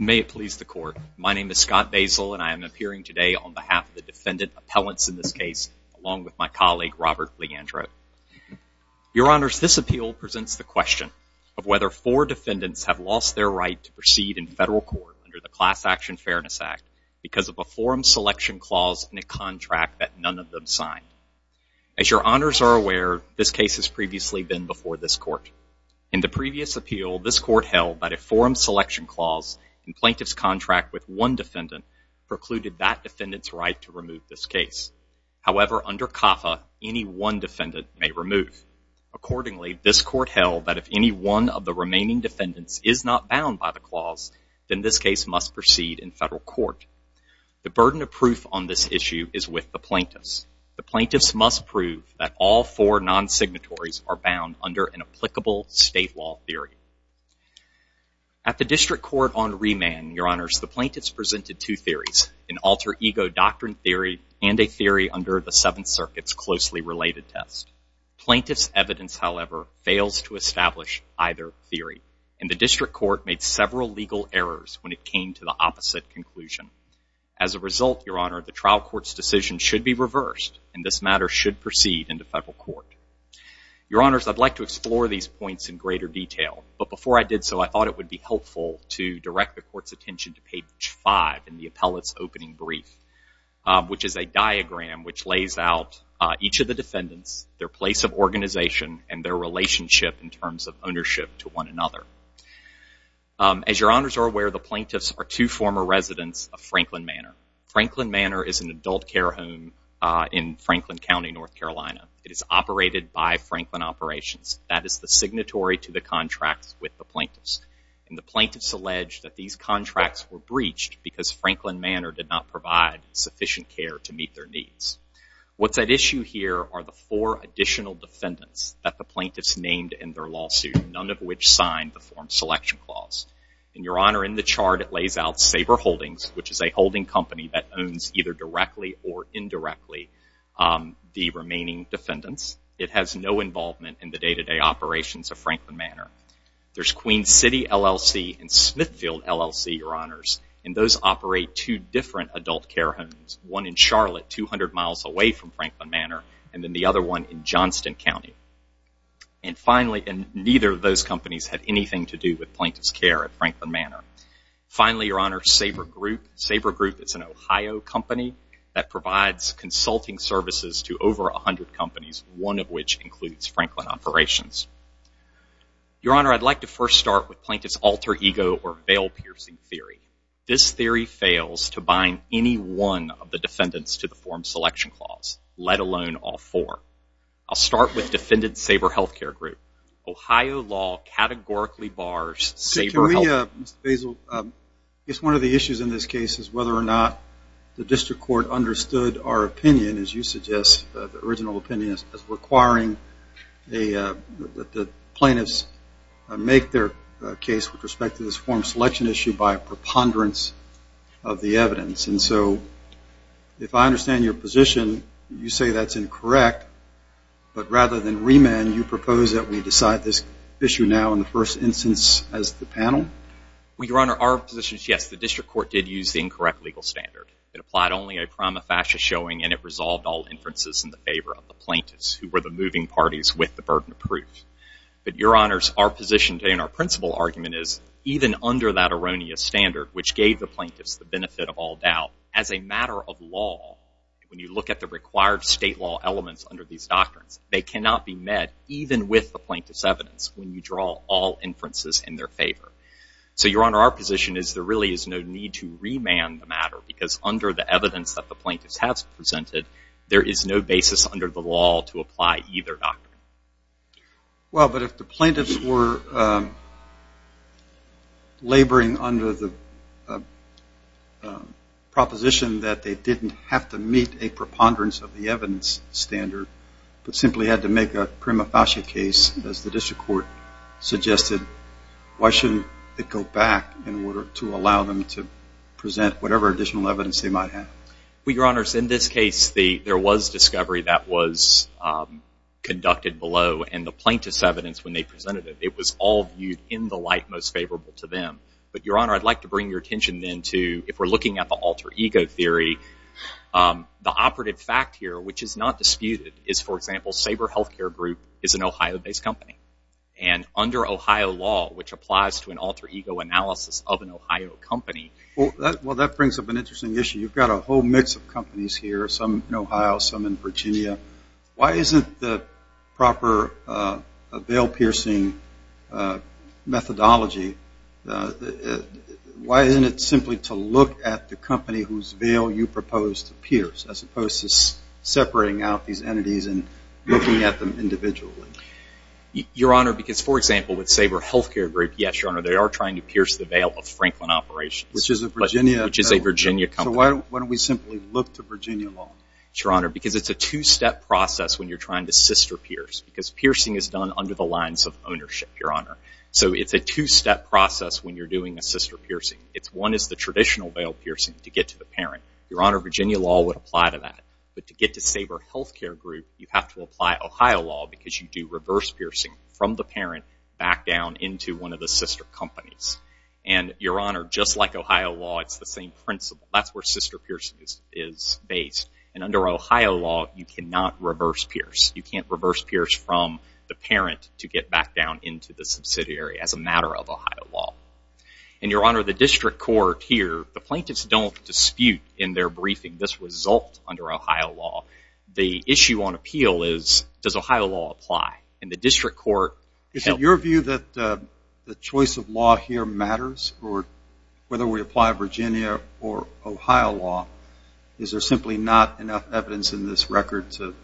May it please the court. My name is Scott Basil and I am appearing today on behalf of the defendant appellants in this case along with my colleague Robert Leandro. Your honors, this appeal presents the question of whether four defendants have lost their right to proceed in federal court under the Class Action Fairness Act because of a forum selection clause in a contract that none of them signed. As your honors are aware, this case has previously been before this court. In the clause, the plaintiff's contract with one defendant precluded that defendant's right to remove this case. However, under CAFA, any one defendant may remove. Accordingly, this court held that if any one of the remaining defendants is not bound by the clause, then this case must proceed in federal court. The burden of proof on this issue is with the plaintiffs. The plaintiffs must prove that all four non-signatories are bound under an applicable state law theory. At the district court on remand, your honors, the plaintiffs presented two theories, an alter-ego doctrine theory and a theory under the Seventh Circuit's closely related test. Plaintiffs' evidence, however, fails to establish either theory and the district court made several legal errors when it came to the opposite conclusion. As a result, your honor, the trial court's decision should be reversed and this matter should proceed into federal court. Your honors, I'd like to explore these points in greater detail, but before I did so, I would be helpful to direct the court's attention to page 5 in the appellate's opening brief, which is a diagram which lays out each of the defendants, their place of organization, and their relationship in terms of ownership to one another. As your honors are aware, the plaintiffs are two former residents of Franklin Manor. Franklin Manor is an adult care home in Franklin County, North Carolina. It is operated by Franklin Operations. That is the signatory to the plaintiffs and the plaintiffs allege that these contracts were breached because Franklin Manor did not provide sufficient care to meet their needs. What's at issue here are the four additional defendants that the plaintiffs named in their lawsuit, none of which signed the form selection clause. And your honor, in the chart it lays out Saber Holdings, which is a holding company that owns either directly or indirectly the remaining defendants. It has no involvement in the day-to-day operations of Franklin Manor. There's Queen City LLC and Smithfield LLC, your honors, and those operate two different adult care homes, one in Charlotte, 200 miles away from Franklin Manor, and then the other one in Johnston County. And neither of those companies had anything to do with plaintiff's care at Franklin Manor. Finally, your honor, Saber Group. Saber Group is an Ohio company that provides consulting services to over a hundred companies, one of which includes Franklin Operations. Your honor, I'd like to first start with plaintiff's alter ego or veil-piercing theory. This theory fails to bind any one of the defendants to the form selection clause, let alone all four. I'll start with defendant's Saber Health Care Group. Ohio law categorically bars Saber Health Care Group. Mr. Basil, it's one of the issues in this case is whether or not the district court understood our opinion, as you suggest, the original plaintiffs make their case with respect to this form selection issue by a preponderance of the evidence. And so, if I understand your position, you say that's incorrect, but rather than remand, you propose that we decide this issue now in the first instance as the panel? Your honor, our position is yes, the district court did use the incorrect legal standard. It applied only a prima facie showing and it resolved all inferences in the favor of the plaintiffs, who were the moving parties with the burden of proof. But your honors, our position today and our principal argument is even under that erroneous standard, which gave the plaintiffs the benefit of all doubt, as a matter of law, when you look at the required state law elements under these doctrines, they cannot be met even with the plaintiff's evidence when you draw all inferences in their favor. So your honor, our position is there really is no need to remand the matter because under the evidence that the plaintiffs have presented, there is no basis under the doctrine. Well, but if the plaintiffs were laboring under the proposition that they didn't have to meet a preponderance of the evidence standard, but simply had to make a prima facie case, as the district court suggested, why shouldn't it go back in order to allow them to present whatever additional evidence they might have? Well, your honors, in this case, there was discovery that was conducted below and the plaintiff's evidence when they presented it, it was all viewed in the light most favorable to them. But your honor, I'd like to bring your attention then to, if we're looking at the alter ego theory, the operative fact here, which is not disputed, is, for example, Saber Health Care Group is an Ohio-based company. And under Ohio law, which applies to an alter ego analysis of an Ohio company... Well, that brings up an interesting issue. You've got a whole mix of companies here, some in Ohio, some in Virginia. Why isn't the proper veil-piercing methodology, why isn't it simply to look at the company whose veil you propose to pierce, as opposed to separating out these entities and looking at them individually? Your honor, because, for example, with Saber Health Care Group, yes, your honor, they are trying to pierce the veil of Franklin Operations, which is a Virginia company. So why don't we simply look to Virginia law? Your honor, because it's a two-step process when you're trying to sister-pierce, because piercing is done under the lines of ownership, your honor. So it's a two-step process when you're doing a sister-piercing. One is the traditional veil-piercing to get to the parent. Your honor, Virginia law would apply to that. But to get to Saber Health Care Group, you have to apply Ohio law, because you do reverse-piercing from the parent back down into one of the sister companies. And your honor, just like Ohio law, it's the same principle. That's where sister-piercing is based. And under Ohio law, you cannot reverse-pierce. You can't reverse-pierce from the parent to get back down into the subsidiary as a matter of Ohio law. And your honor, the district court here, the plaintiffs don't dispute in their briefing this result under Ohio law. The issue on appeal is, does Ohio law apply? And the district court... Is it your view that the choice of law here matters, or whether we apply Virginia or Ohio law, is there simply not enough evidence in this record to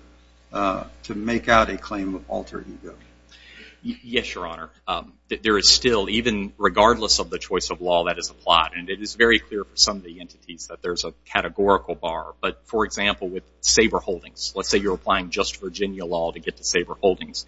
make out a claim of alter ego? Yes, your honor. There is still, even regardless of the choice of law, that is applied. And it is very clear for some of the entities that there's a categorical bar. But for example, with Saber Holdings, let's say you're applying just Virginia law to get to Saber Holdings.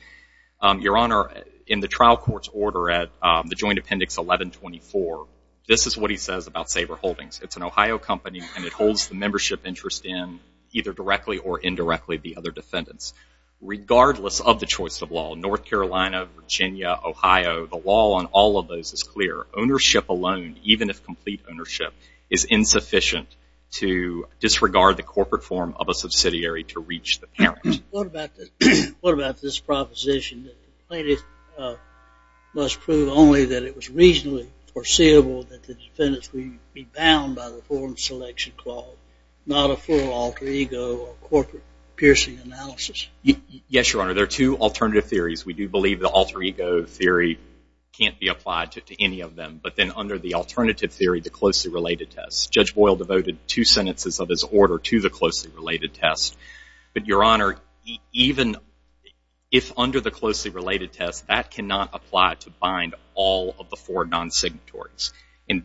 Your honor, in the trial court's order at the joint appendix 1124, this is what he says about Saber Holdings. It's an Ohio company, and it holds the membership interest in, either directly or indirectly, the other defendants. Regardless of the choice of law, North Carolina, Virginia, Ohio, the law on all of those is clear. Ownership alone, even if complete ownership, is insufficient to disregard the corporate form of a subsidiary to reach the parent. What about this proposition that the plaintiff must prove only that it was reasonably foreseeable that the defendants would be bound by the form of selection clause, not a full alter ego or corporate piercing analysis? Yes, your honor. There are two alternative theories. We do believe the alter ego theory can't be applied to any of them. But then under the alternative theory, the closely related test. Judge Boyle devoted two sentences of his order to the plaintiff. Even if under the closely related test, that cannot apply to bind all of the four non-signatories.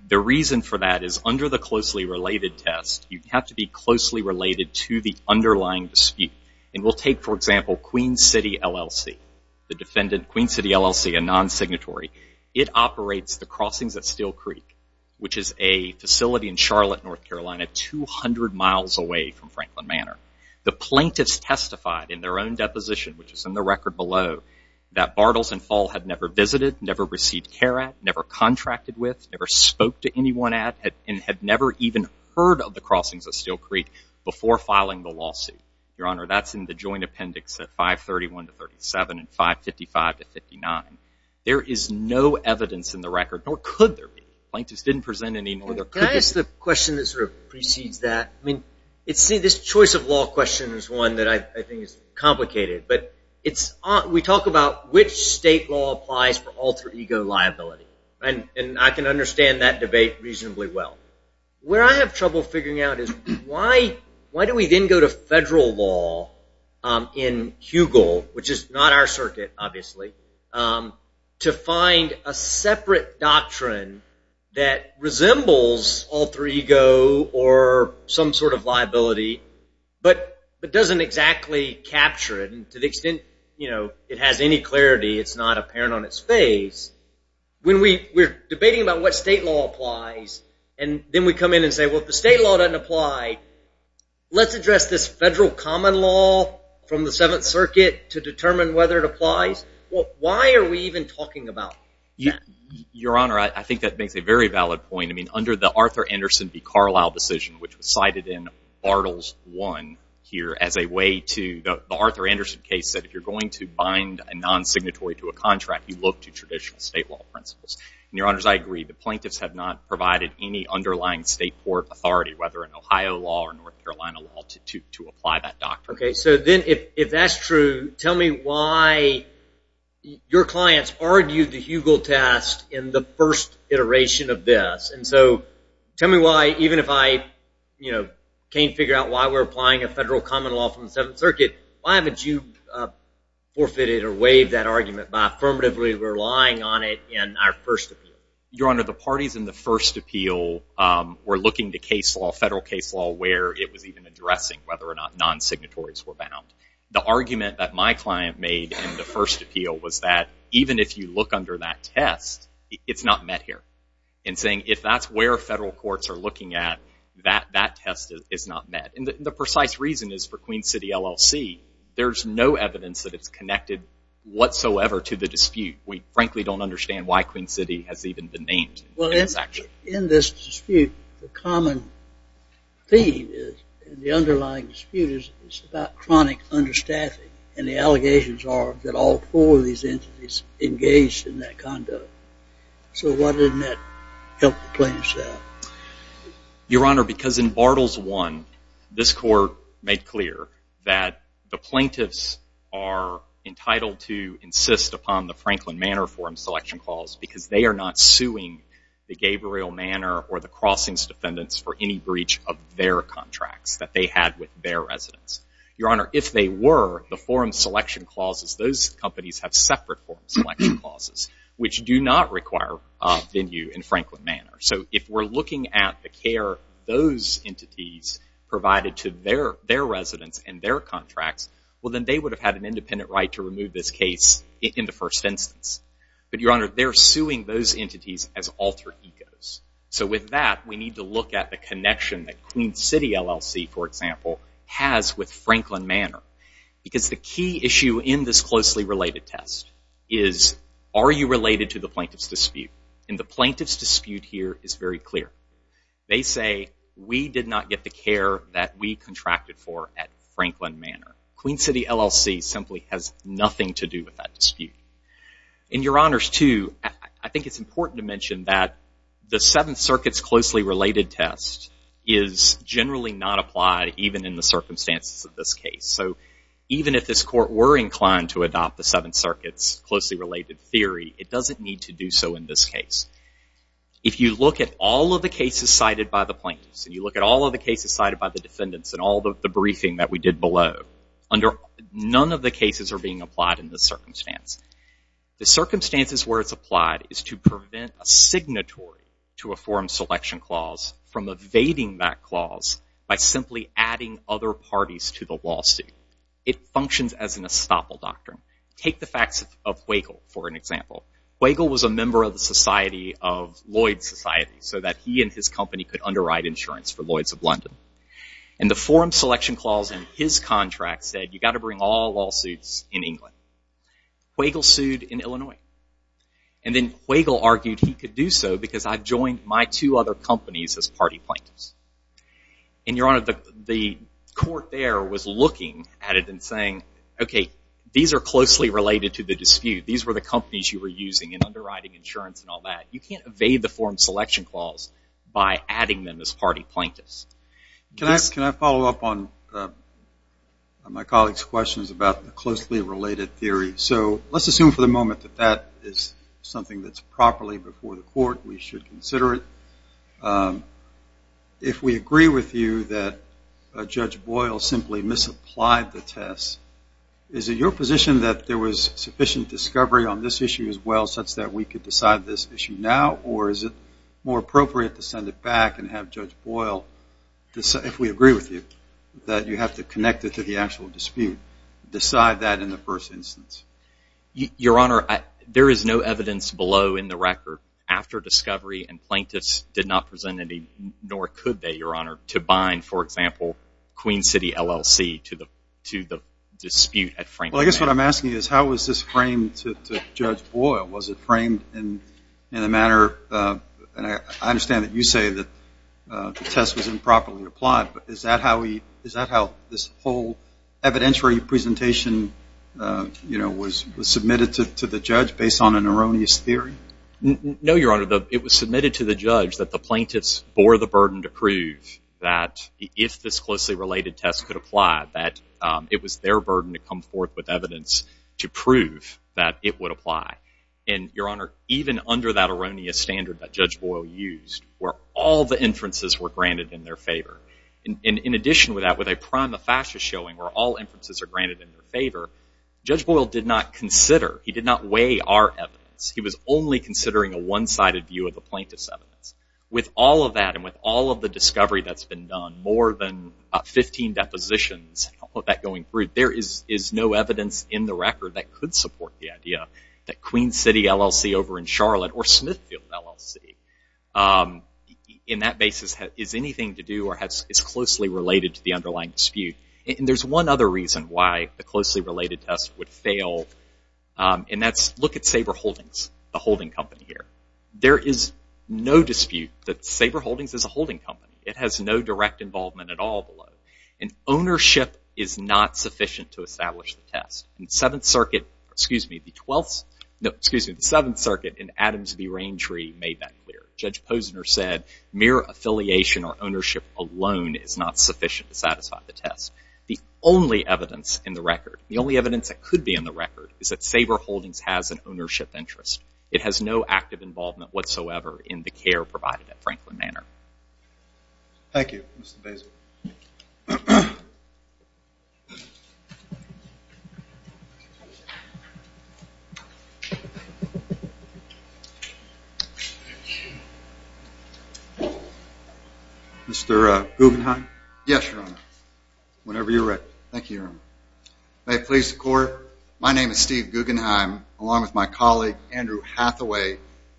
The reason for that is under the closely related test, you have to be closely related to the underlying dispute. We'll take, for example, Queen City LLC, the defendant, Queen City LLC, a non-signatory. It operates the crossings at Steel Creek, which is a facility in Charlotte, North Carolina, 200 miles away from Franklin Manor. The plaintiffs testified in their own deposition, which is in the record below, that Bartles and Fall had never visited, never received care at, never contracted with, never spoke to anyone at, and had never even heard of the crossings at Steel Creek before filing the lawsuit. Your honor, that's in the joint appendix at 531 to 37 and 555 to 59. There is no evidence in the record, nor could there be. Plaintiffs didn't present any more evidence. Can I ask the question that sort of precedes that? I mean, this choice of law question is one that I think is complicated, but we talk about which state law applies for alter ego liability, and I can understand that debate reasonably well. Where I have trouble figuring out is why do we then go to federal law in Hugel, which is not our circuit, obviously, to find a separate doctrine that doesn't exactly capture it, and to the extent it has any clarity, it's not apparent on its face. When we're debating about what state law applies, and then we come in and say, well, if the state law doesn't apply, let's address this federal common law from the Seventh Circuit to determine whether it applies. Well, why are we even talking about that? Your honor, I think that makes a very valid point. I mean, under the Arthur Anderson v. Carlisle decision, which was here as a way to, the Arthur Anderson case said, if you're going to bind a non-signatory to a contract, you look to traditional state law principles. And your honors, I agree. The plaintiffs have not provided any underlying state court authority, whether in Ohio law or North Carolina law, to apply that doctrine. Okay. So then if that's true, tell me why your clients argued the Hugel test in the first iteration of this. And so tell me why, even if I can't figure out why we're applying a federal common law from the Seventh Circuit, why haven't you forfeited or waived that argument by affirmatively relying on it in our first appeal? Your honor, the parties in the first appeal were looking to case law, federal case law, where it was even addressing whether or not non-signatories were bound. The argument that my client made in the first appeal was that even if you look under that test, it's not met here. And saying, if that's where federal courts are looking at, that test is not met. And the precise reason is for Queen City LLC. There's no evidence that it's connected whatsoever to the dispute. We frankly don't understand why Queen City has even been named. Well, in this dispute, the common theme is, in the underlying dispute, it's about chronic understaffing. And the allegations are that all four of these entities engaged in that conduct. So why didn't that help the plaintiffs out? Your honor, because in Bartles 1, this court made clear that the plaintiffs are entitled to insist upon the Franklin Manor Forum Selection Clause, because they are not suing the Gabriel Manor or the Crossings defendants for any breach of their contracts that they had with their residents. Your honor, if they were, the do not require venue in Franklin Manor. So if we're looking at the care those entities provided to their residents and their contracts, well then they would have had an independent right to remove this case in the first instance. But your honor, they're suing those entities as alter egos. So with that, we need to look at the connection that Queen City LLC, for example, has with related to the plaintiff's dispute? And the plaintiff's dispute here is very clear. They say, we did not get the care that we contracted for at Franklin Manor. Queen City LLC simply has nothing to do with that dispute. And your honors, too, I think it's important to mention that the Seventh Circuit's closely related test is generally not applied even in the circumstances of this case. So even if this court were inclined to adopt the Seventh Circuit's closely related theory, it doesn't need to do so in this case. If you look at all of the cases cited by the plaintiffs and you look at all of the cases cited by the defendants and all the briefing that we did below, under none of the cases are being applied in this circumstance. The circumstances where it's applied is to prevent a signatory to a forum selection clause from evading that clause by simply adding other parties to the lawsuit. It functions as an estoppel doctrine. Take the facts of Wagle, for an example. Wagle was a member of the society of Lloyd's Society so that he and his company could underwrite insurance for Lloyd's of London. And the forum selection clause in his contract said you got to bring all lawsuits in England. Wagle sued in Illinois. And then Wagle argued he could do so because I've joined my two other companies as party plaintiffs. And your honor, the court there was looking at it and saying, okay, these are closely related to the dispute. These were the companies you were using in underwriting insurance and all that. You can't evade the forum selection clause by adding them as party plaintiffs. Can I follow up on my colleague's questions about the closely related theory? So let's assume for the moment that that is something that's properly before the court. We should consider it. If we agree with you that Judge Boyle simply misapplied the test, is it your position that there was sufficient discovery on this issue as well such that we could decide this issue now? Or is it more appropriate to send it back and have Judge Boyle, if we agree with you, that you have to connect it to the actual dispute, decide that in the first instance? Your honor, there is no evidence below in the record after discovery and plaintiffs did not present any, nor could they, your honor, to bind, for me, to the dispute at Franklin. Well, I guess what I'm asking is how was this framed to Judge Boyle? Was it framed in a manner, and I understand that you say that the test was improperly applied, but is that how he, is that how this whole evidentiary presentation, you know, was submitted to the judge based on an erroneous theory? No, your honor. It was submitted to the judge that the plaintiffs bore the burden to prove that if this closely related test could apply, that it was their burden to come forth with evidence to prove that it would apply. And, your honor, even under that erroneous standard that Judge Boyle used, where all the inferences were granted in their favor, and in addition with that, with a prima facie showing where all inferences are granted in their favor, Judge Boyle did not consider, he did not weigh our evidence. He was only considering a one-sided view of the plaintiff's evidence. With all of that, and all of the discovery that's been done, more than 15 depositions, all of that going through, there is no evidence in the record that could support the idea that Queen City LLC over in Charlotte, or Smithfield LLC, in that basis, has anything to do or is closely related to the underlying dispute. And there's one other reason why the closely related test would fail, and that's look at Saber Holdings, the holding company here. There is no dispute that Saber Holdings is a holding company. It has no direct involvement at all below. And ownership is not sufficient to establish the test. In Seventh Circuit, excuse me, the 12th, no, excuse me, the Seventh Circuit in Adams v. Rangery made that clear. Judge Posner said mere affiliation or ownership alone is not sufficient to satisfy the test. The only evidence in the record, the only evidence that could be in the record, is that Saber Holdings has an ownership interest. It has no active involvement whatsoever in the care provided at Franklin Manor. Thank you, Mr. Basile. Mr. Guggenheim? Yes, Your Honor. Whenever you're ready. Thank you, Your Honor. May it please the Court,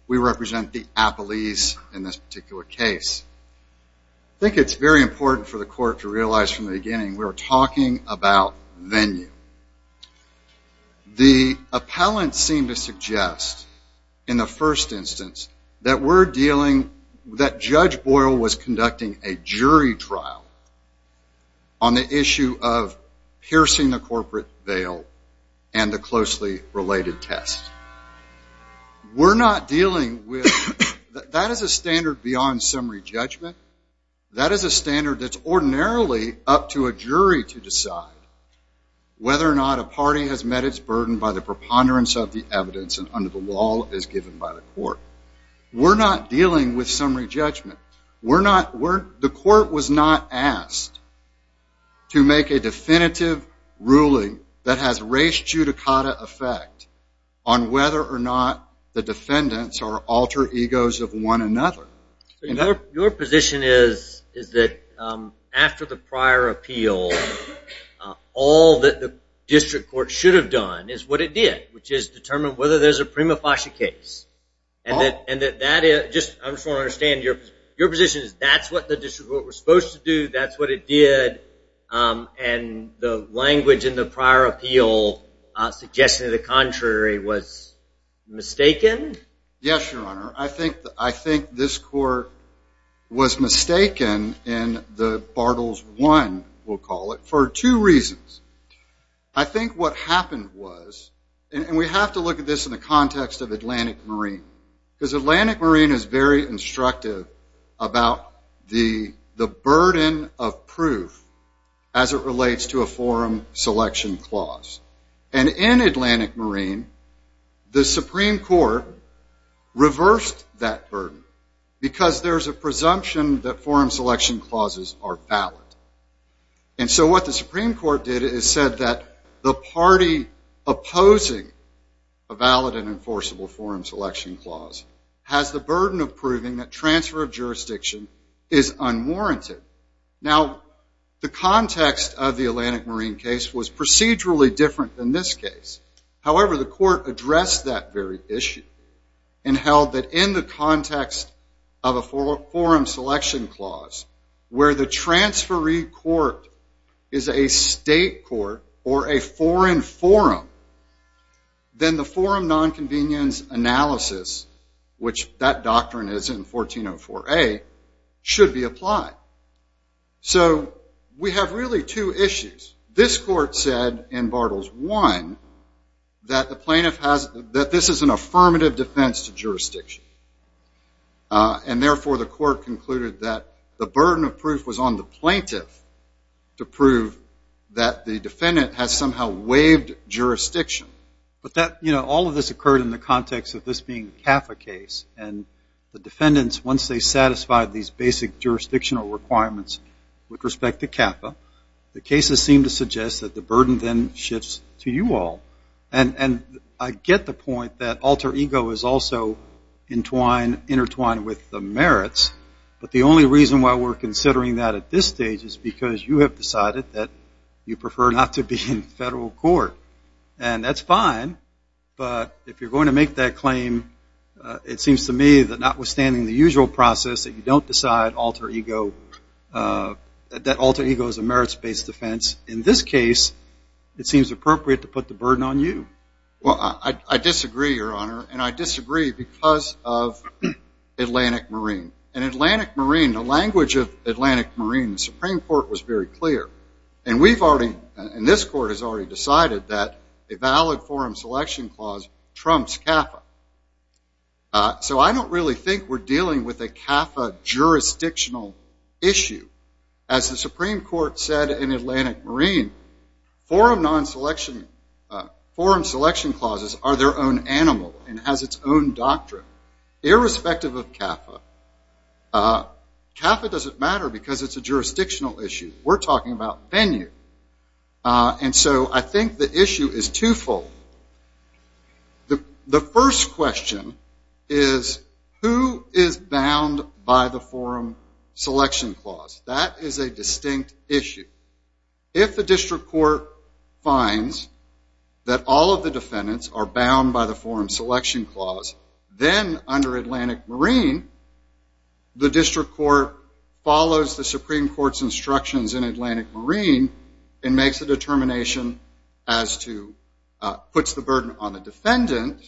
we represent the appellees in this particular case. I think it's very important for the Court to realize from the beginning we're talking about venue. The appellant seemed to suggest in the first instance that we're dealing, that Judge Boyle was conducting a jury trial on the issue of piercing the corporate veil and the closely related test. We're not dealing with, that is a standard beyond summary judgment. That is a standard that's ordinarily up to a jury to decide whether or not a party has met its burden by the preponderance of the evidence and under the law as given by the Court. We're not dealing with summary that has race judicata effect on whether or not the defendants are alter egos of one another. Your position is that after the prior appeal, all that the district court should have done is what it did, which is determine whether there's a prima facie case. I just want to understand your position is that's what the district court was supposed to do, that's what it did, and the language in the prior appeal suggested the contrary was mistaken? Yes, your honor. I think this court was mistaken in the Bartles I, we'll call it, for two reasons. I think what happened was, and we have to look at this in the context of Atlantic Marine, because Atlantic Marine is very instructive about the burden of proof as it relates to a forum selection clause. And in Atlantic Marine, the Supreme Court reversed that burden because there's a presumption that forum selection clauses are valid. And so what the Supreme Court did is said that the party opposing a valid and enforceable forum selection clause has the burden of transfer of jurisdiction is unwarranted. Now the context of the Atlantic Marine case was procedurally different than this case. However, the court addressed that very issue and held that in the context of a forum selection clause where the transferee court is a state court or a foreign forum, then the forum non-convenience analysis, which that doctrine is in 1404A, should be applied. So we have really two issues. This court said in Bartles I that the plaintiff has, that this is an affirmative defense to jurisdiction. And therefore the court concluded that the burden of proof was on the plaintiff to prove that the context of this being a CAFA case. And the defendants, once they satisfied these basic jurisdictional requirements with respect to CAFA, the cases seem to suggest that the burden then shifts to you all. And I get the point that alter ego is also intertwined with the merits. But the only reason why we're considering that at this stage is because you have decided that you prefer not to be in federal court. And that's fine, but if you're going to make that claim, it seems to me that notwithstanding the usual process that you don't decide alter ego, that alter ego is a merits-based defense, in this case it seems appropriate to put the burden on you. Well, I disagree, Your Honor, and I disagree because of Atlantic Marine. And Atlantic Marine, the language of Atlantic Marine, the Supreme Court was very clear. And we've already, and this court has already decided that a valid forum selection clause trumps CAFA. So I don't really think we're dealing with a CAFA jurisdictional issue. As the Supreme Court said in Atlantic Marine, forum non-selection, forum selection clauses are their own animal and has its own doctrine. Irrespective of CAFA, CAFA doesn't matter because it's a jurisdictional issue. We're talking about venue. And so I think the issue is twofold. The first question is, who is bound by the forum selection clause? That is a distinct issue. If the district court finds that all of the defendants are bound by the forum selection clause, then under Atlantic Marine, the district court follows the Supreme Court's instructions in Atlantic Marine and makes a determination as to, puts the burden on the defendant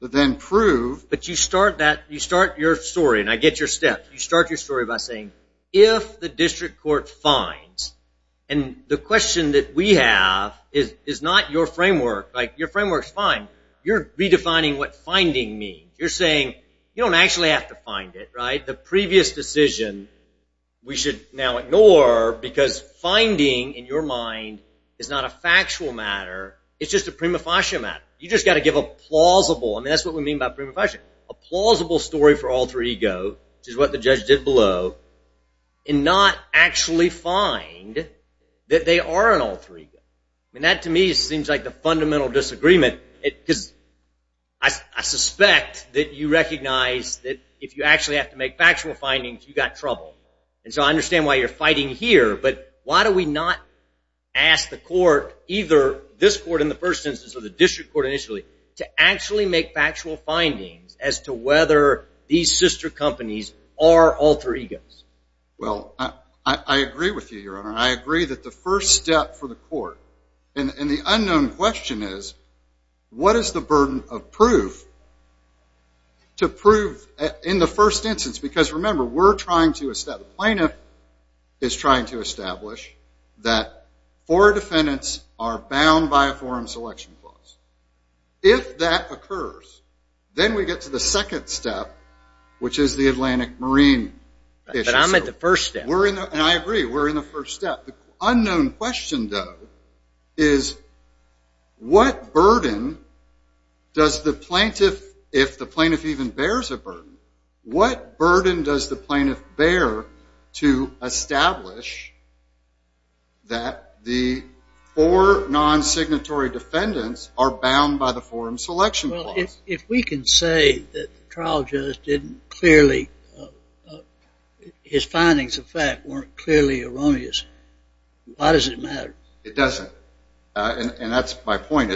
to then prove. But you start that, you start your story, and I get your step. You start your story by saying, if the district court finds, and the question that we have is not your framework, like your framework's fine, you're redefining what finding means. You're saying, you don't actually have to find it, right? The previous decision we should now ignore because finding, in your mind, is not a factual matter. It's just a prima facie matter. You just got to give a plausible, and that's what we mean by prima facie, a plausible story for alter ego, which is what the judge did below, and not actually find that they are an alter ego. And that, to me, seems like the fundamental disagreement. Because I suspect that you recognize that if you actually have to make factual findings, you got trouble. And so I understand why you're fighting here, but why do we not ask the court, either this court in the first instance or the district court initially, to actually make factual findings as to whether these sister companies are alter egos? Well, I agree with you, Your Honor. I agree that the first step for the court, and the unknown question is, what is the burden of proof to prove in the first instance? Because remember, we're trying to establish, the plaintiff is trying to establish, that four defendants are bound by a forum selection clause. If that occurs, then we get to the second step, which is the Atlantic Marine issue. But I'm at the first step. And I agree, we're in the first step. The unknown question, though, is what burden does the plaintiff, if the plaintiff even bears a burden, what burden does the plaintiff bear to establish that the four non-signatory defendants are bound by the forum selection clause? Well, if we can say that the trial judge didn't clearly, his findings of fact weren't clearly erroneous, why does it matter? It doesn't. And that's my point.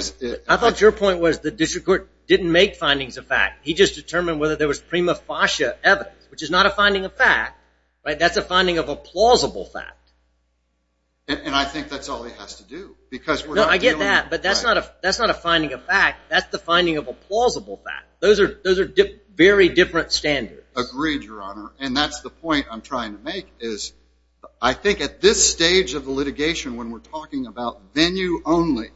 I thought your point was the district court didn't make findings of fact. He just determined whether there was prima facie evidence, which is not a finding of fact, right? That's a finding of a plausible fact. And I think that's all he has to do. No, I get that, but that's not a finding of fact. That's the finding of a plausible fact. Those are very different standards. Agreed, Your Honor. And that's the point I'm trying to make, is I think at this stage of the litigation, when we're talking about venue only,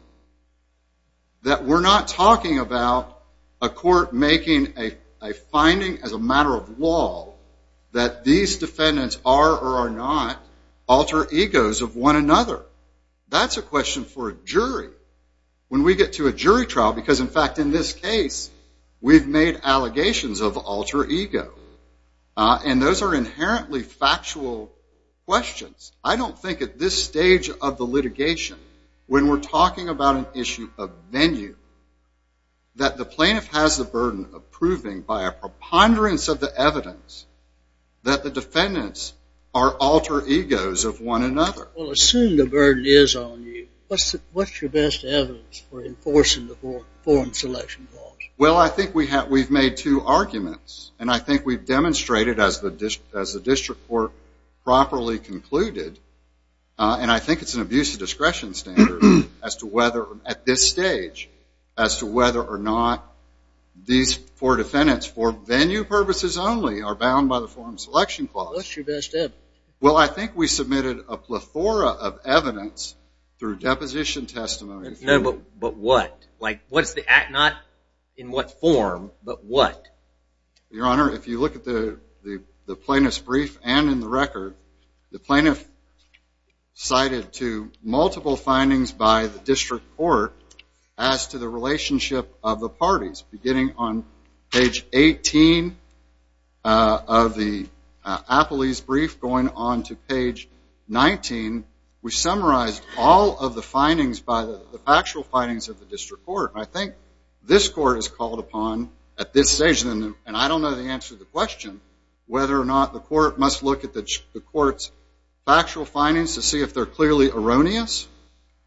that we're not talking about a court making a finding as a matter of law that these defendants are or are not alter egos of one another. That's a question for a jury. When we get to a jury trial, because in fact in this case, we've made allegations of alter ego. And those are inherently factual questions. I don't think at this stage of the litigation, when we're talking about an issue of venue, that the plaintiff has the burden of proving by a preponderance of the evidence that the defendants are alter egos of one another. Well, assume the burden is on you. What's your best evidence for enforcing the selection clause? Well, I think we've made two arguments. And I think we've demonstrated, as the district court properly concluded, and I think it's an abuse of discretion standard at this stage, as to whether or not these four defendants, for venue purposes only, are bound by the forum selection clause. What's your best evidence? Well, I think we submitted a plethora of not in what form, but what? Your Honor, if you look at the plaintiff's brief and in the record, the plaintiff cited to multiple findings by the district court as to the relationship of the parties, beginning on page 18 of the Appley's brief, going on to page 19, we summarized all of the findings by the actual findings of the district court. I think this court is called upon at this stage, and I don't know the answer to the question, whether or not the court must look at the court's factual findings to see if they're clearly erroneous,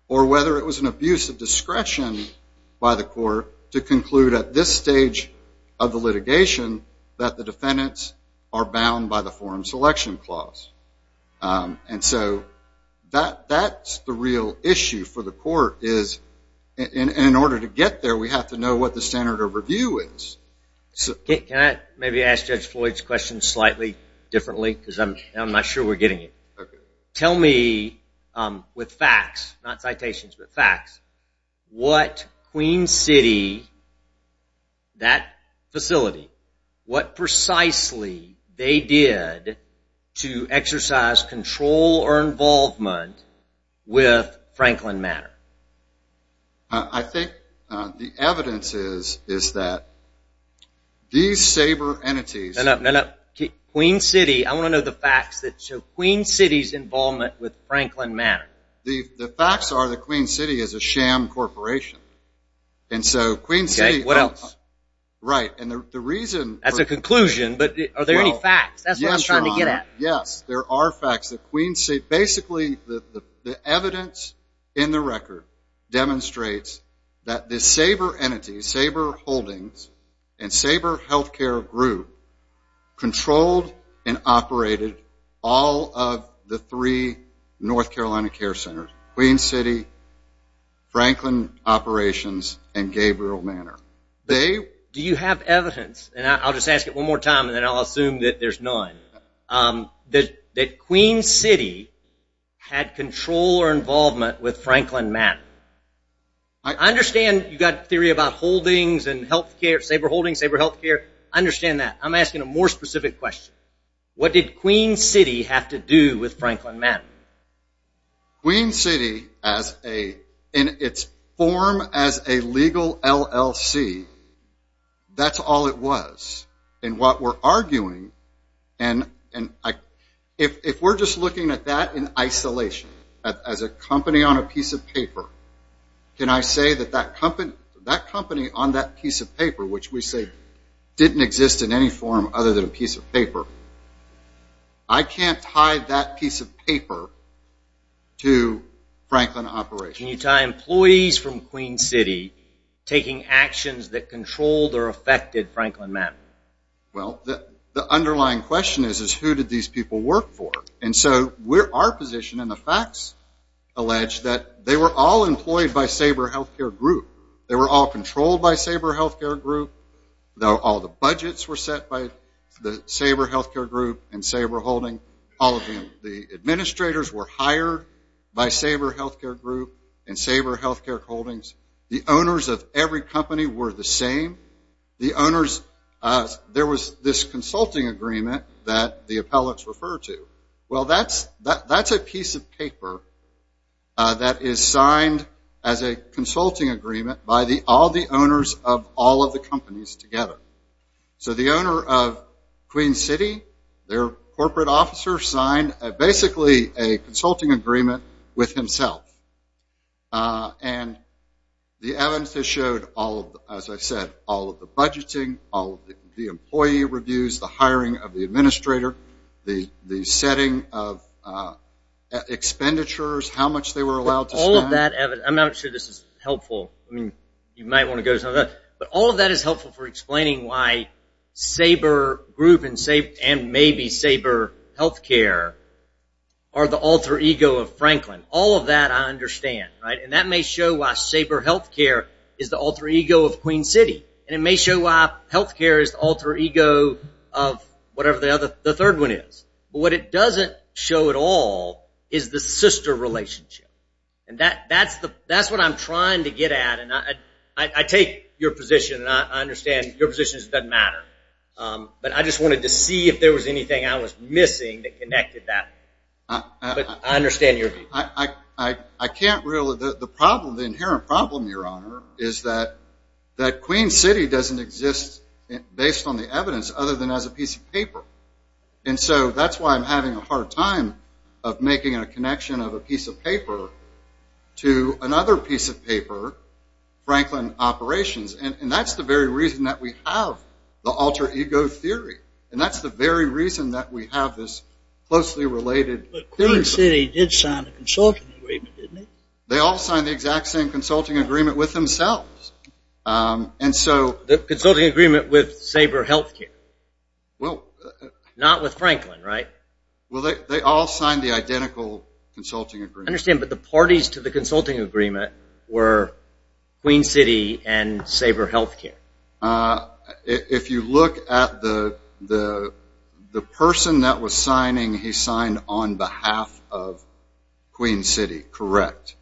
or whether it was an abuse of discretion by the court to conclude at this stage of the litigation that the defendants are bound by the forum selection clause. And so, that's the real issue for the court, is in order to get there, we have to know what the standard of review is. Can I maybe ask Judge Floyd's question slightly differently, because I'm not sure we're getting it. Tell me, with facts, not citations, but facts, what Queen City, that facility, what precisely they did to exercise control or involvement with Franklin Manor? I think the evidence is that these saber entities... No, no, no, no. Queen City, I want to know the facts that show Queen City's involvement with Franklin Manor. The facts are that Queen City is a sham corporation, and so Queen City... Okay, what else? Right, and the reason... That's a there are facts that Queen City... Basically, the evidence in the record demonstrates that this saber entity, Saber Holdings, and Saber Healthcare Group, controlled and operated all of the three North Carolina care centers, Queen City, Franklin Operations, and Gabriel Manor. They... Do you have evidence, and I'll just ask it one more time, and then I'll assume that there's none, that Queen City had control or involvement with Franklin Manor? I understand you've got a theory about holdings and healthcare, Saber Holdings, Saber Healthcare. I understand that. I'm asking a more specific question. What did Queen City have to do with Franklin Manor? Queen City, in its form as a legal LLC, that's all it was. And what we're arguing, and if we're just looking at that in isolation, as a company on a piece of paper, can I say that that company on that piece of paper, which we say didn't exist in any form other than a piece of paper, I can't tie that piece of paper to Franklin Operations. Can you tie employees from Queen City taking actions that controlled or affected Franklin Manor? Well, the underlying question is, is who did these people work for? And so, our position in the facts allege that they were all employed by Saber Healthcare Group. They were all controlled by Saber Healthcare Group. All the budgets were set by the Saber Healthcare Group and Saber Holdings. All of the administrators were hired by Saber Healthcare Group and Saber Healthcare Holdings. The owners of every company were the same. The owners, there was this consulting agreement that the appellates refer to. Well, that's a piece of paper that is signed as a consulting agreement by all the owners of all of the companies together. So, the owner of Queen City, their corporate officer signed basically a consulting agreement with himself. And the evidence has showed, as I said, all of the budgeting, all of the employee reviews, the hiring of the administrator, the setting of expenditures, how much they were allowed to spend. All of that evidence, I'm not sure this is helpful. I mean, you might want to go to some of that. But all of that is helpful for explaining why Saber Group and maybe Saber Healthcare are the alter ego of Franklin. All of that I understand, right? And that may show why Saber Healthcare is the alter ego of Queen City. And it may show why healthcare is the alter ego of whatever the third one is. But what it doesn't show at all is the sister relationship. And that's what I'm trying to get at. And I take your position, and I understand your position doesn't matter. But I just wanted to see if there was anything I was missing that connected that. But I understand your view. I can't really. The problem, the inherent problem, Your Honor, is that Queen City doesn't exist based on the evidence other than as a piece of paper. And so that's why I'm having a hard time of making a connection of a piece of paper to another piece of paper, Franklin Operations. And that's the very reason that we have the alter ego theory. And that's the very reason that we have this closely related. But Queen City did sign a consulting agreement, didn't it? They all signed the exact same consulting agreement with themselves. And so. The consulting agreement with Sabre Healthcare. Well. Not with Franklin, right? Well, they all signed the identical consulting agreement. I understand. But the parties to the consulting agreement were Queen City and Sabre Healthcare. If you look at the person that was signing, he signed on behalf of Queen City. Correct.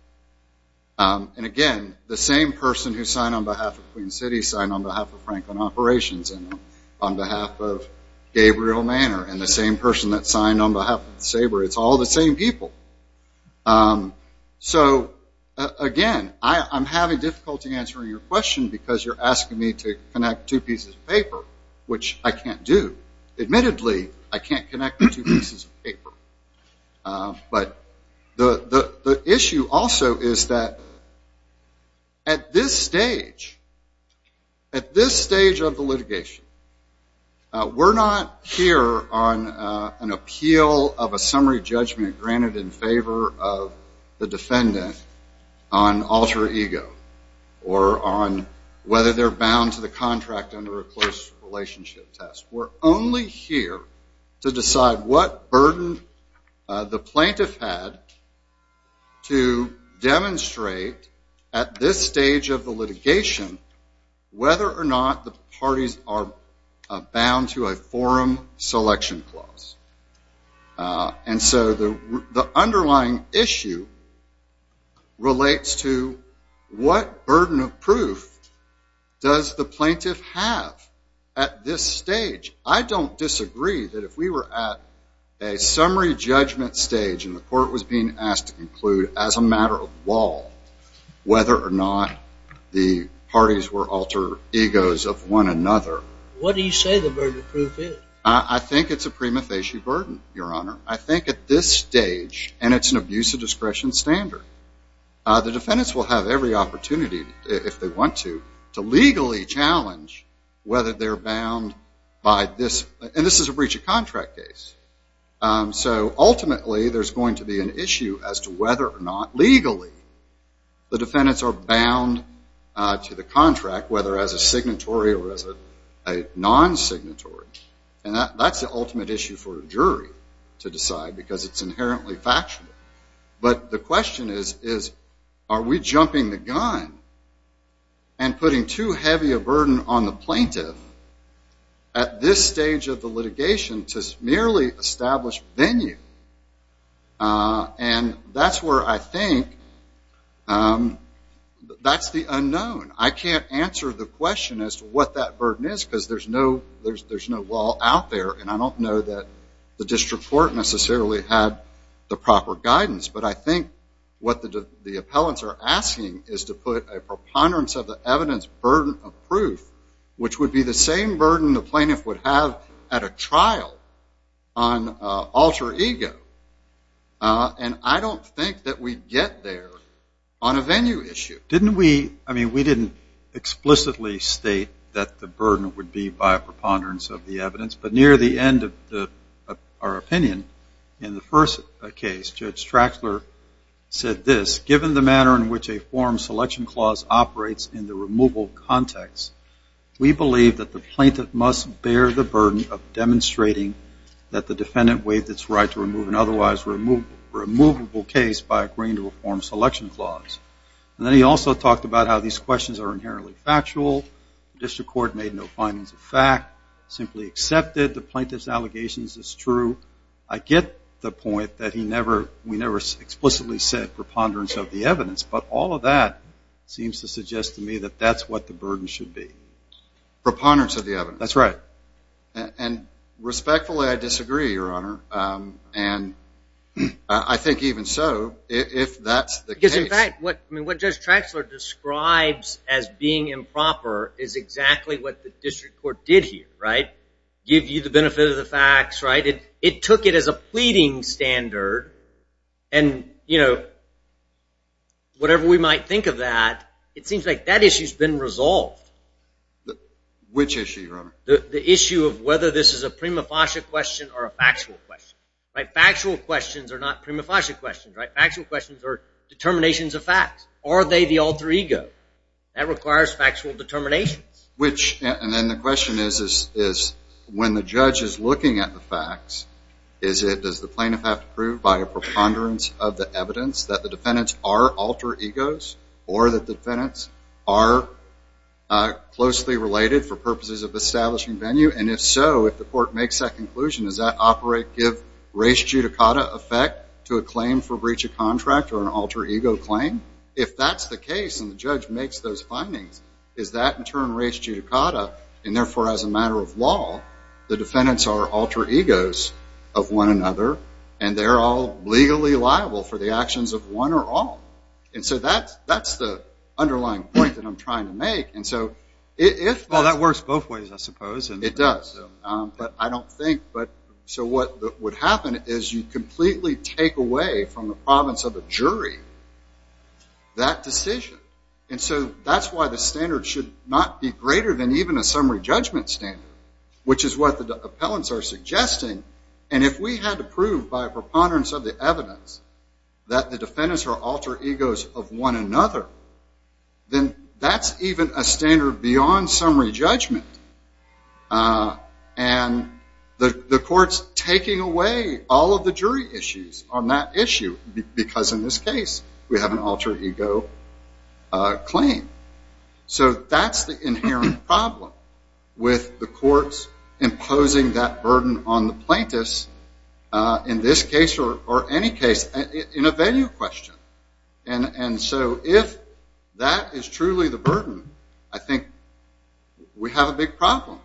And, again, the same person who signed on behalf of Queen City signed on behalf of Franklin Operations and on behalf of Gabriel Manor and the same person that signed on behalf of Sabre. It's all the same people. So, again, I'm having difficulty answering your question because you're asking me to connect two pieces of paper, which I can't do. Admittedly, I can't connect the two pieces of paper. But what I can say also is that at this stage, at this stage of the litigation, we're not here on an appeal of a summary judgment granted in favor of the defendant on alter ego or on whether they're bound to the contract under a close relationship test. We're only here to decide what burden the plaintiff had to demonstrate at this stage of the litigation whether or not the parties are bound to a forum selection clause. And so the underlying issue relates to what burden of proof does the plaintiff have at this stage? I don't disagree that if we were at a summary judgment stage and the court was being asked to conclude as a matter of law whether or not the parties were alter egos of one another. What do you say the burden of proof is? I think it's a prima facie burden, Your Honor. I think at this stage, and it's an abuse of standard, the defendants will have every opportunity, if they want to, to legally challenge whether they're bound by this. And this is a breach of contract case. So ultimately, there's going to be an issue as to whether or not legally the defendants are bound to the contract, whether as a signatory or as a non-signatory. And that's the ultimate issue for a jury to decide because it's inherently factual. But the question is, are we jumping the gun and putting too heavy a burden on the plaintiff at this stage of the litigation to merely establish venue? And that's where I think that's the unknown. I can't answer the question as to what that burden is because there's no out there. And I don't know that the district court necessarily had the proper guidance. But I think what the appellants are asking is to put a preponderance of the evidence burden of proof, which would be the same burden the plaintiff would have at a trial on alter ego. And I don't think that we'd get there on a venue issue. Didn't we, I mean, we didn't explicitly state that the burden would be by a preponderance of the evidence. But near the end of our opinion in the first case, Judge Trachler said this, given the manner in which a form selection clause operates in the removal context, we believe that the plaintiff must bear the burden of demonstrating that the defendant waived its right to remove an otherwise removable case by agreeing to a form selection clause. And then he also talked about how these questions are inherently factual. The district court made no findings of fact, simply accepted the plaintiff's allegations as true. I get the point that he never, we never explicitly said preponderance of the evidence. But all of that seems to suggest to me that that's what the burden should be. Preponderance of the evidence. That's right. And respectfully, I disagree, Your Honor. And I think even so, if that's the case. Because district court did here, right? Give you the benefit of the facts, right? It took it as a pleading standard. And, you know, whatever we might think of that, it seems like that issue's been resolved. Which issue, Your Honor? The issue of whether this is a prima facie question or a factual question, right? Factual questions are not prima facie questions, right? Factual questions are determinations of facts. Are they the alter ego? That requires factual determinations. Which, and then the question is, is when the judge is looking at the facts, is it, does the plaintiff have to prove by a preponderance of the evidence that the defendants are alter egos? Or that the defendants are closely related for purposes of establishing venue? And if so, if the court makes that conclusion, does that operate give race judicata effect to a claim for breach of contract or an alter ego claim? If that's the case and the judge makes those findings, is that in turn race judicata? And therefore, as a matter of law, the defendants are alter egos of one another, and they're all legally liable for the actions of one or all. And so that's the underlying point that I'm trying to make. And so if- Well, that works both ways, I suppose. It does. But I don't think, but so what would happen is you completely take away from the should not be greater than even a summary judgment standard, which is what the appellants are suggesting. And if we had to prove by a preponderance of the evidence that the defendants are alter egos of one another, then that's even a standard beyond summary judgment. And the court's taking away all of the jury issues on that issue, because in this case, we have an alter ego claim. So that's the inherent problem with the courts imposing that burden on the plaintiffs, in this case or any case, in a venue question. And so if that is truly the burden, I think we have a big problem.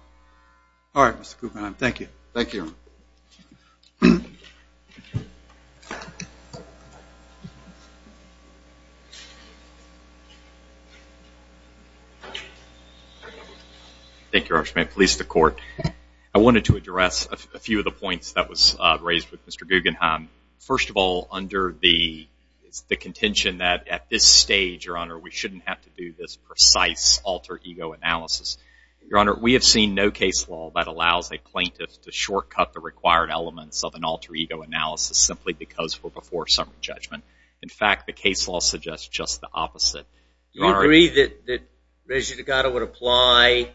All right, Mr. Cooper. Thank you. Thank you, Your Honor. Thank you, Your Honor. Please, the court. I wanted to address a few of the points that was raised with Mr. Guggenheim. First of all, under the contention that at this stage, Your Honor, we shouldn't have to do this precise alter ego analysis. Your Honor, we have seen no case law that allows a plaintiff to shortcut the required elements of an alter ego analysis simply because we're before summary judgment. In fact, the case law suggests just the opposite. Do you agree that Registered Decada would apply,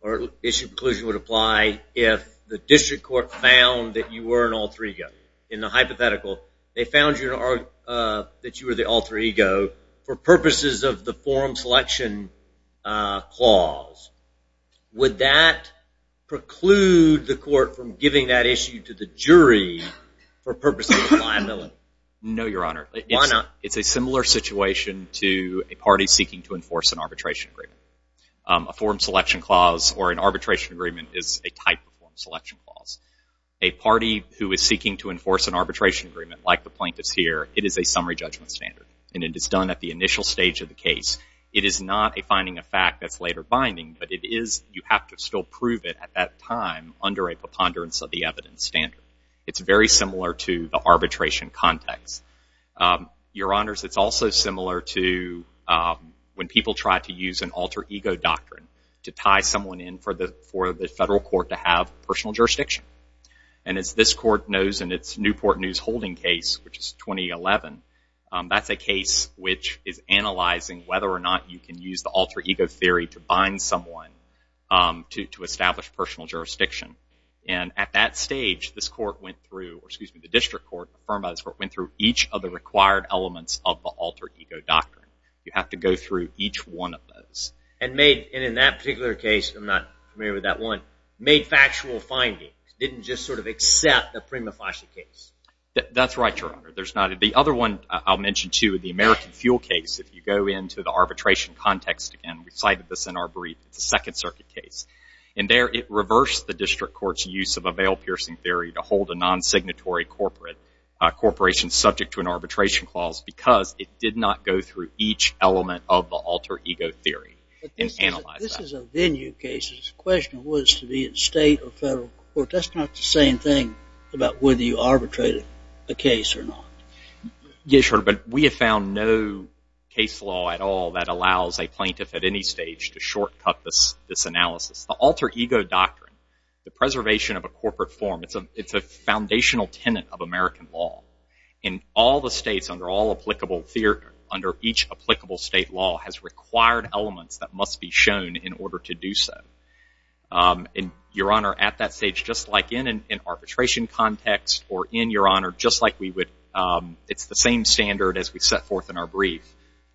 or issue of conclusion would apply, if the district court found that you were an alter ego? In the hypothetical, they found that you were the alter ego for purposes of the forum selection clause. Would that preclude the court from giving that issue to the jury for purposes of liability? No, Your Honor. Why not? It's a similar situation to a party seeking to enforce an arbitration agreement. A forum selection clause or an arbitration agreement is a type of forum selection clause. A party who is seeking to enforce an arbitration agreement, like the plaintiffs here, it is a summary judgment standard. And it is done at the initial stage of the case. It is not a finding of fact that's later binding, but you have to still prove it at that time under a preponderance of the evidence standard. It's very similar to the arbitration context. Your Honors, it's also similar to when people try to use an alter ego doctrine to tie someone in for the federal court to have personal jurisdiction. And as this court knows in its Newport News holding case, which is 2011, that's a case which is analyzing whether or not you can use the alter ego theory to bind someone to establish personal jurisdiction. And at that stage, this court went through, or excuse me, the district court, the firm of this court, went through each of the required elements of the alter ego doctrine. You have to go through each one of those. And made, and in that particular case, I'm not familiar with that one, made factual findings. Didn't just sort of accept the prima facie case. That's right, Your Honor. There's not, the other one I'll mention too, the American fuel case, if you go into the arbitration context again, we cited this in our brief, it's a second circuit case. And there it reversed the district court's use of a veil piercing theory to hold a non-signatory corporate, a corporation subject to an arbitration clause because it did not go through each element of the alter ego theory and analyze that. But this is a venue case. The question was to be state or federal court. That's not the same thing about whether you arbitrated a case or not. Yes, Your Honor, but we have found no case law at all that allows a plaintiff at any stage to shortcut this analysis. The alter ego doctrine, the preservation of a corporate form, it's a foundational tenet of American law. And all the states under all applicable, under each applicable state law has required elements that must be shown in order to do so. And Your Honor, at that stage, just like in an arbitration context or in, Your Honor, just like we would, it's the same standard as we set forth in our brief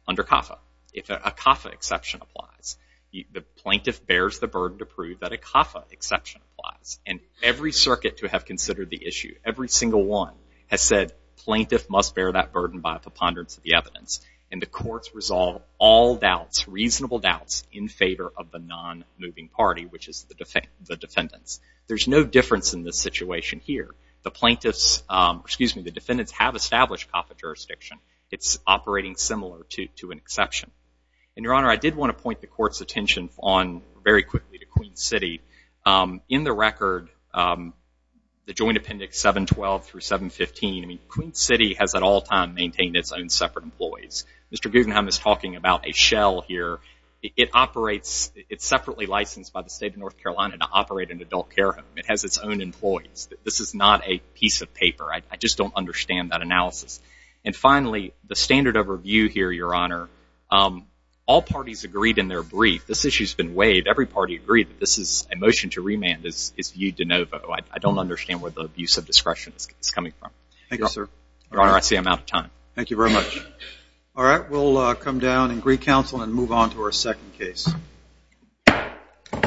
under CAFA. If a CAFA exception applies, the plaintiff bears the burden to prove that a CAFA exception applies. And every circuit to have considered the issue, every single one has said plaintiff must bear that burden by preponderance of the evidence. And the courts resolve all doubts, reasonable doubts, in favor of the non-moving party, which is the defendants. There's no difference in this situation here. The plaintiffs, excuse me, the defendants have established CAFA jurisdiction. It's operating similar to an exception. And Your Honor, I did want to point the court's attention on, very quickly, to Queen's City. In the record, the joint appendix 712 through 715, I mean, Queen's City has at all times maintained its own separate employees. Mr. Guggenheim is talking about a shell here. It operates, it's separately licensed by the state of North Carolina to operate an adult care home. It has its own employees. This is not a piece of paper. I just don't understand that analysis. And finally, the standard overview here, Your Honor, all parties agreed in their brief, this issue's been waived, every party agreed that this is a motion to remand is viewed de novo. I don't understand where the abuse of discretion is coming from. Thank you, sir. Your Honor, I see I'm out of time. Thank you very much. All right, we'll come down and recounsel and move on to our second case.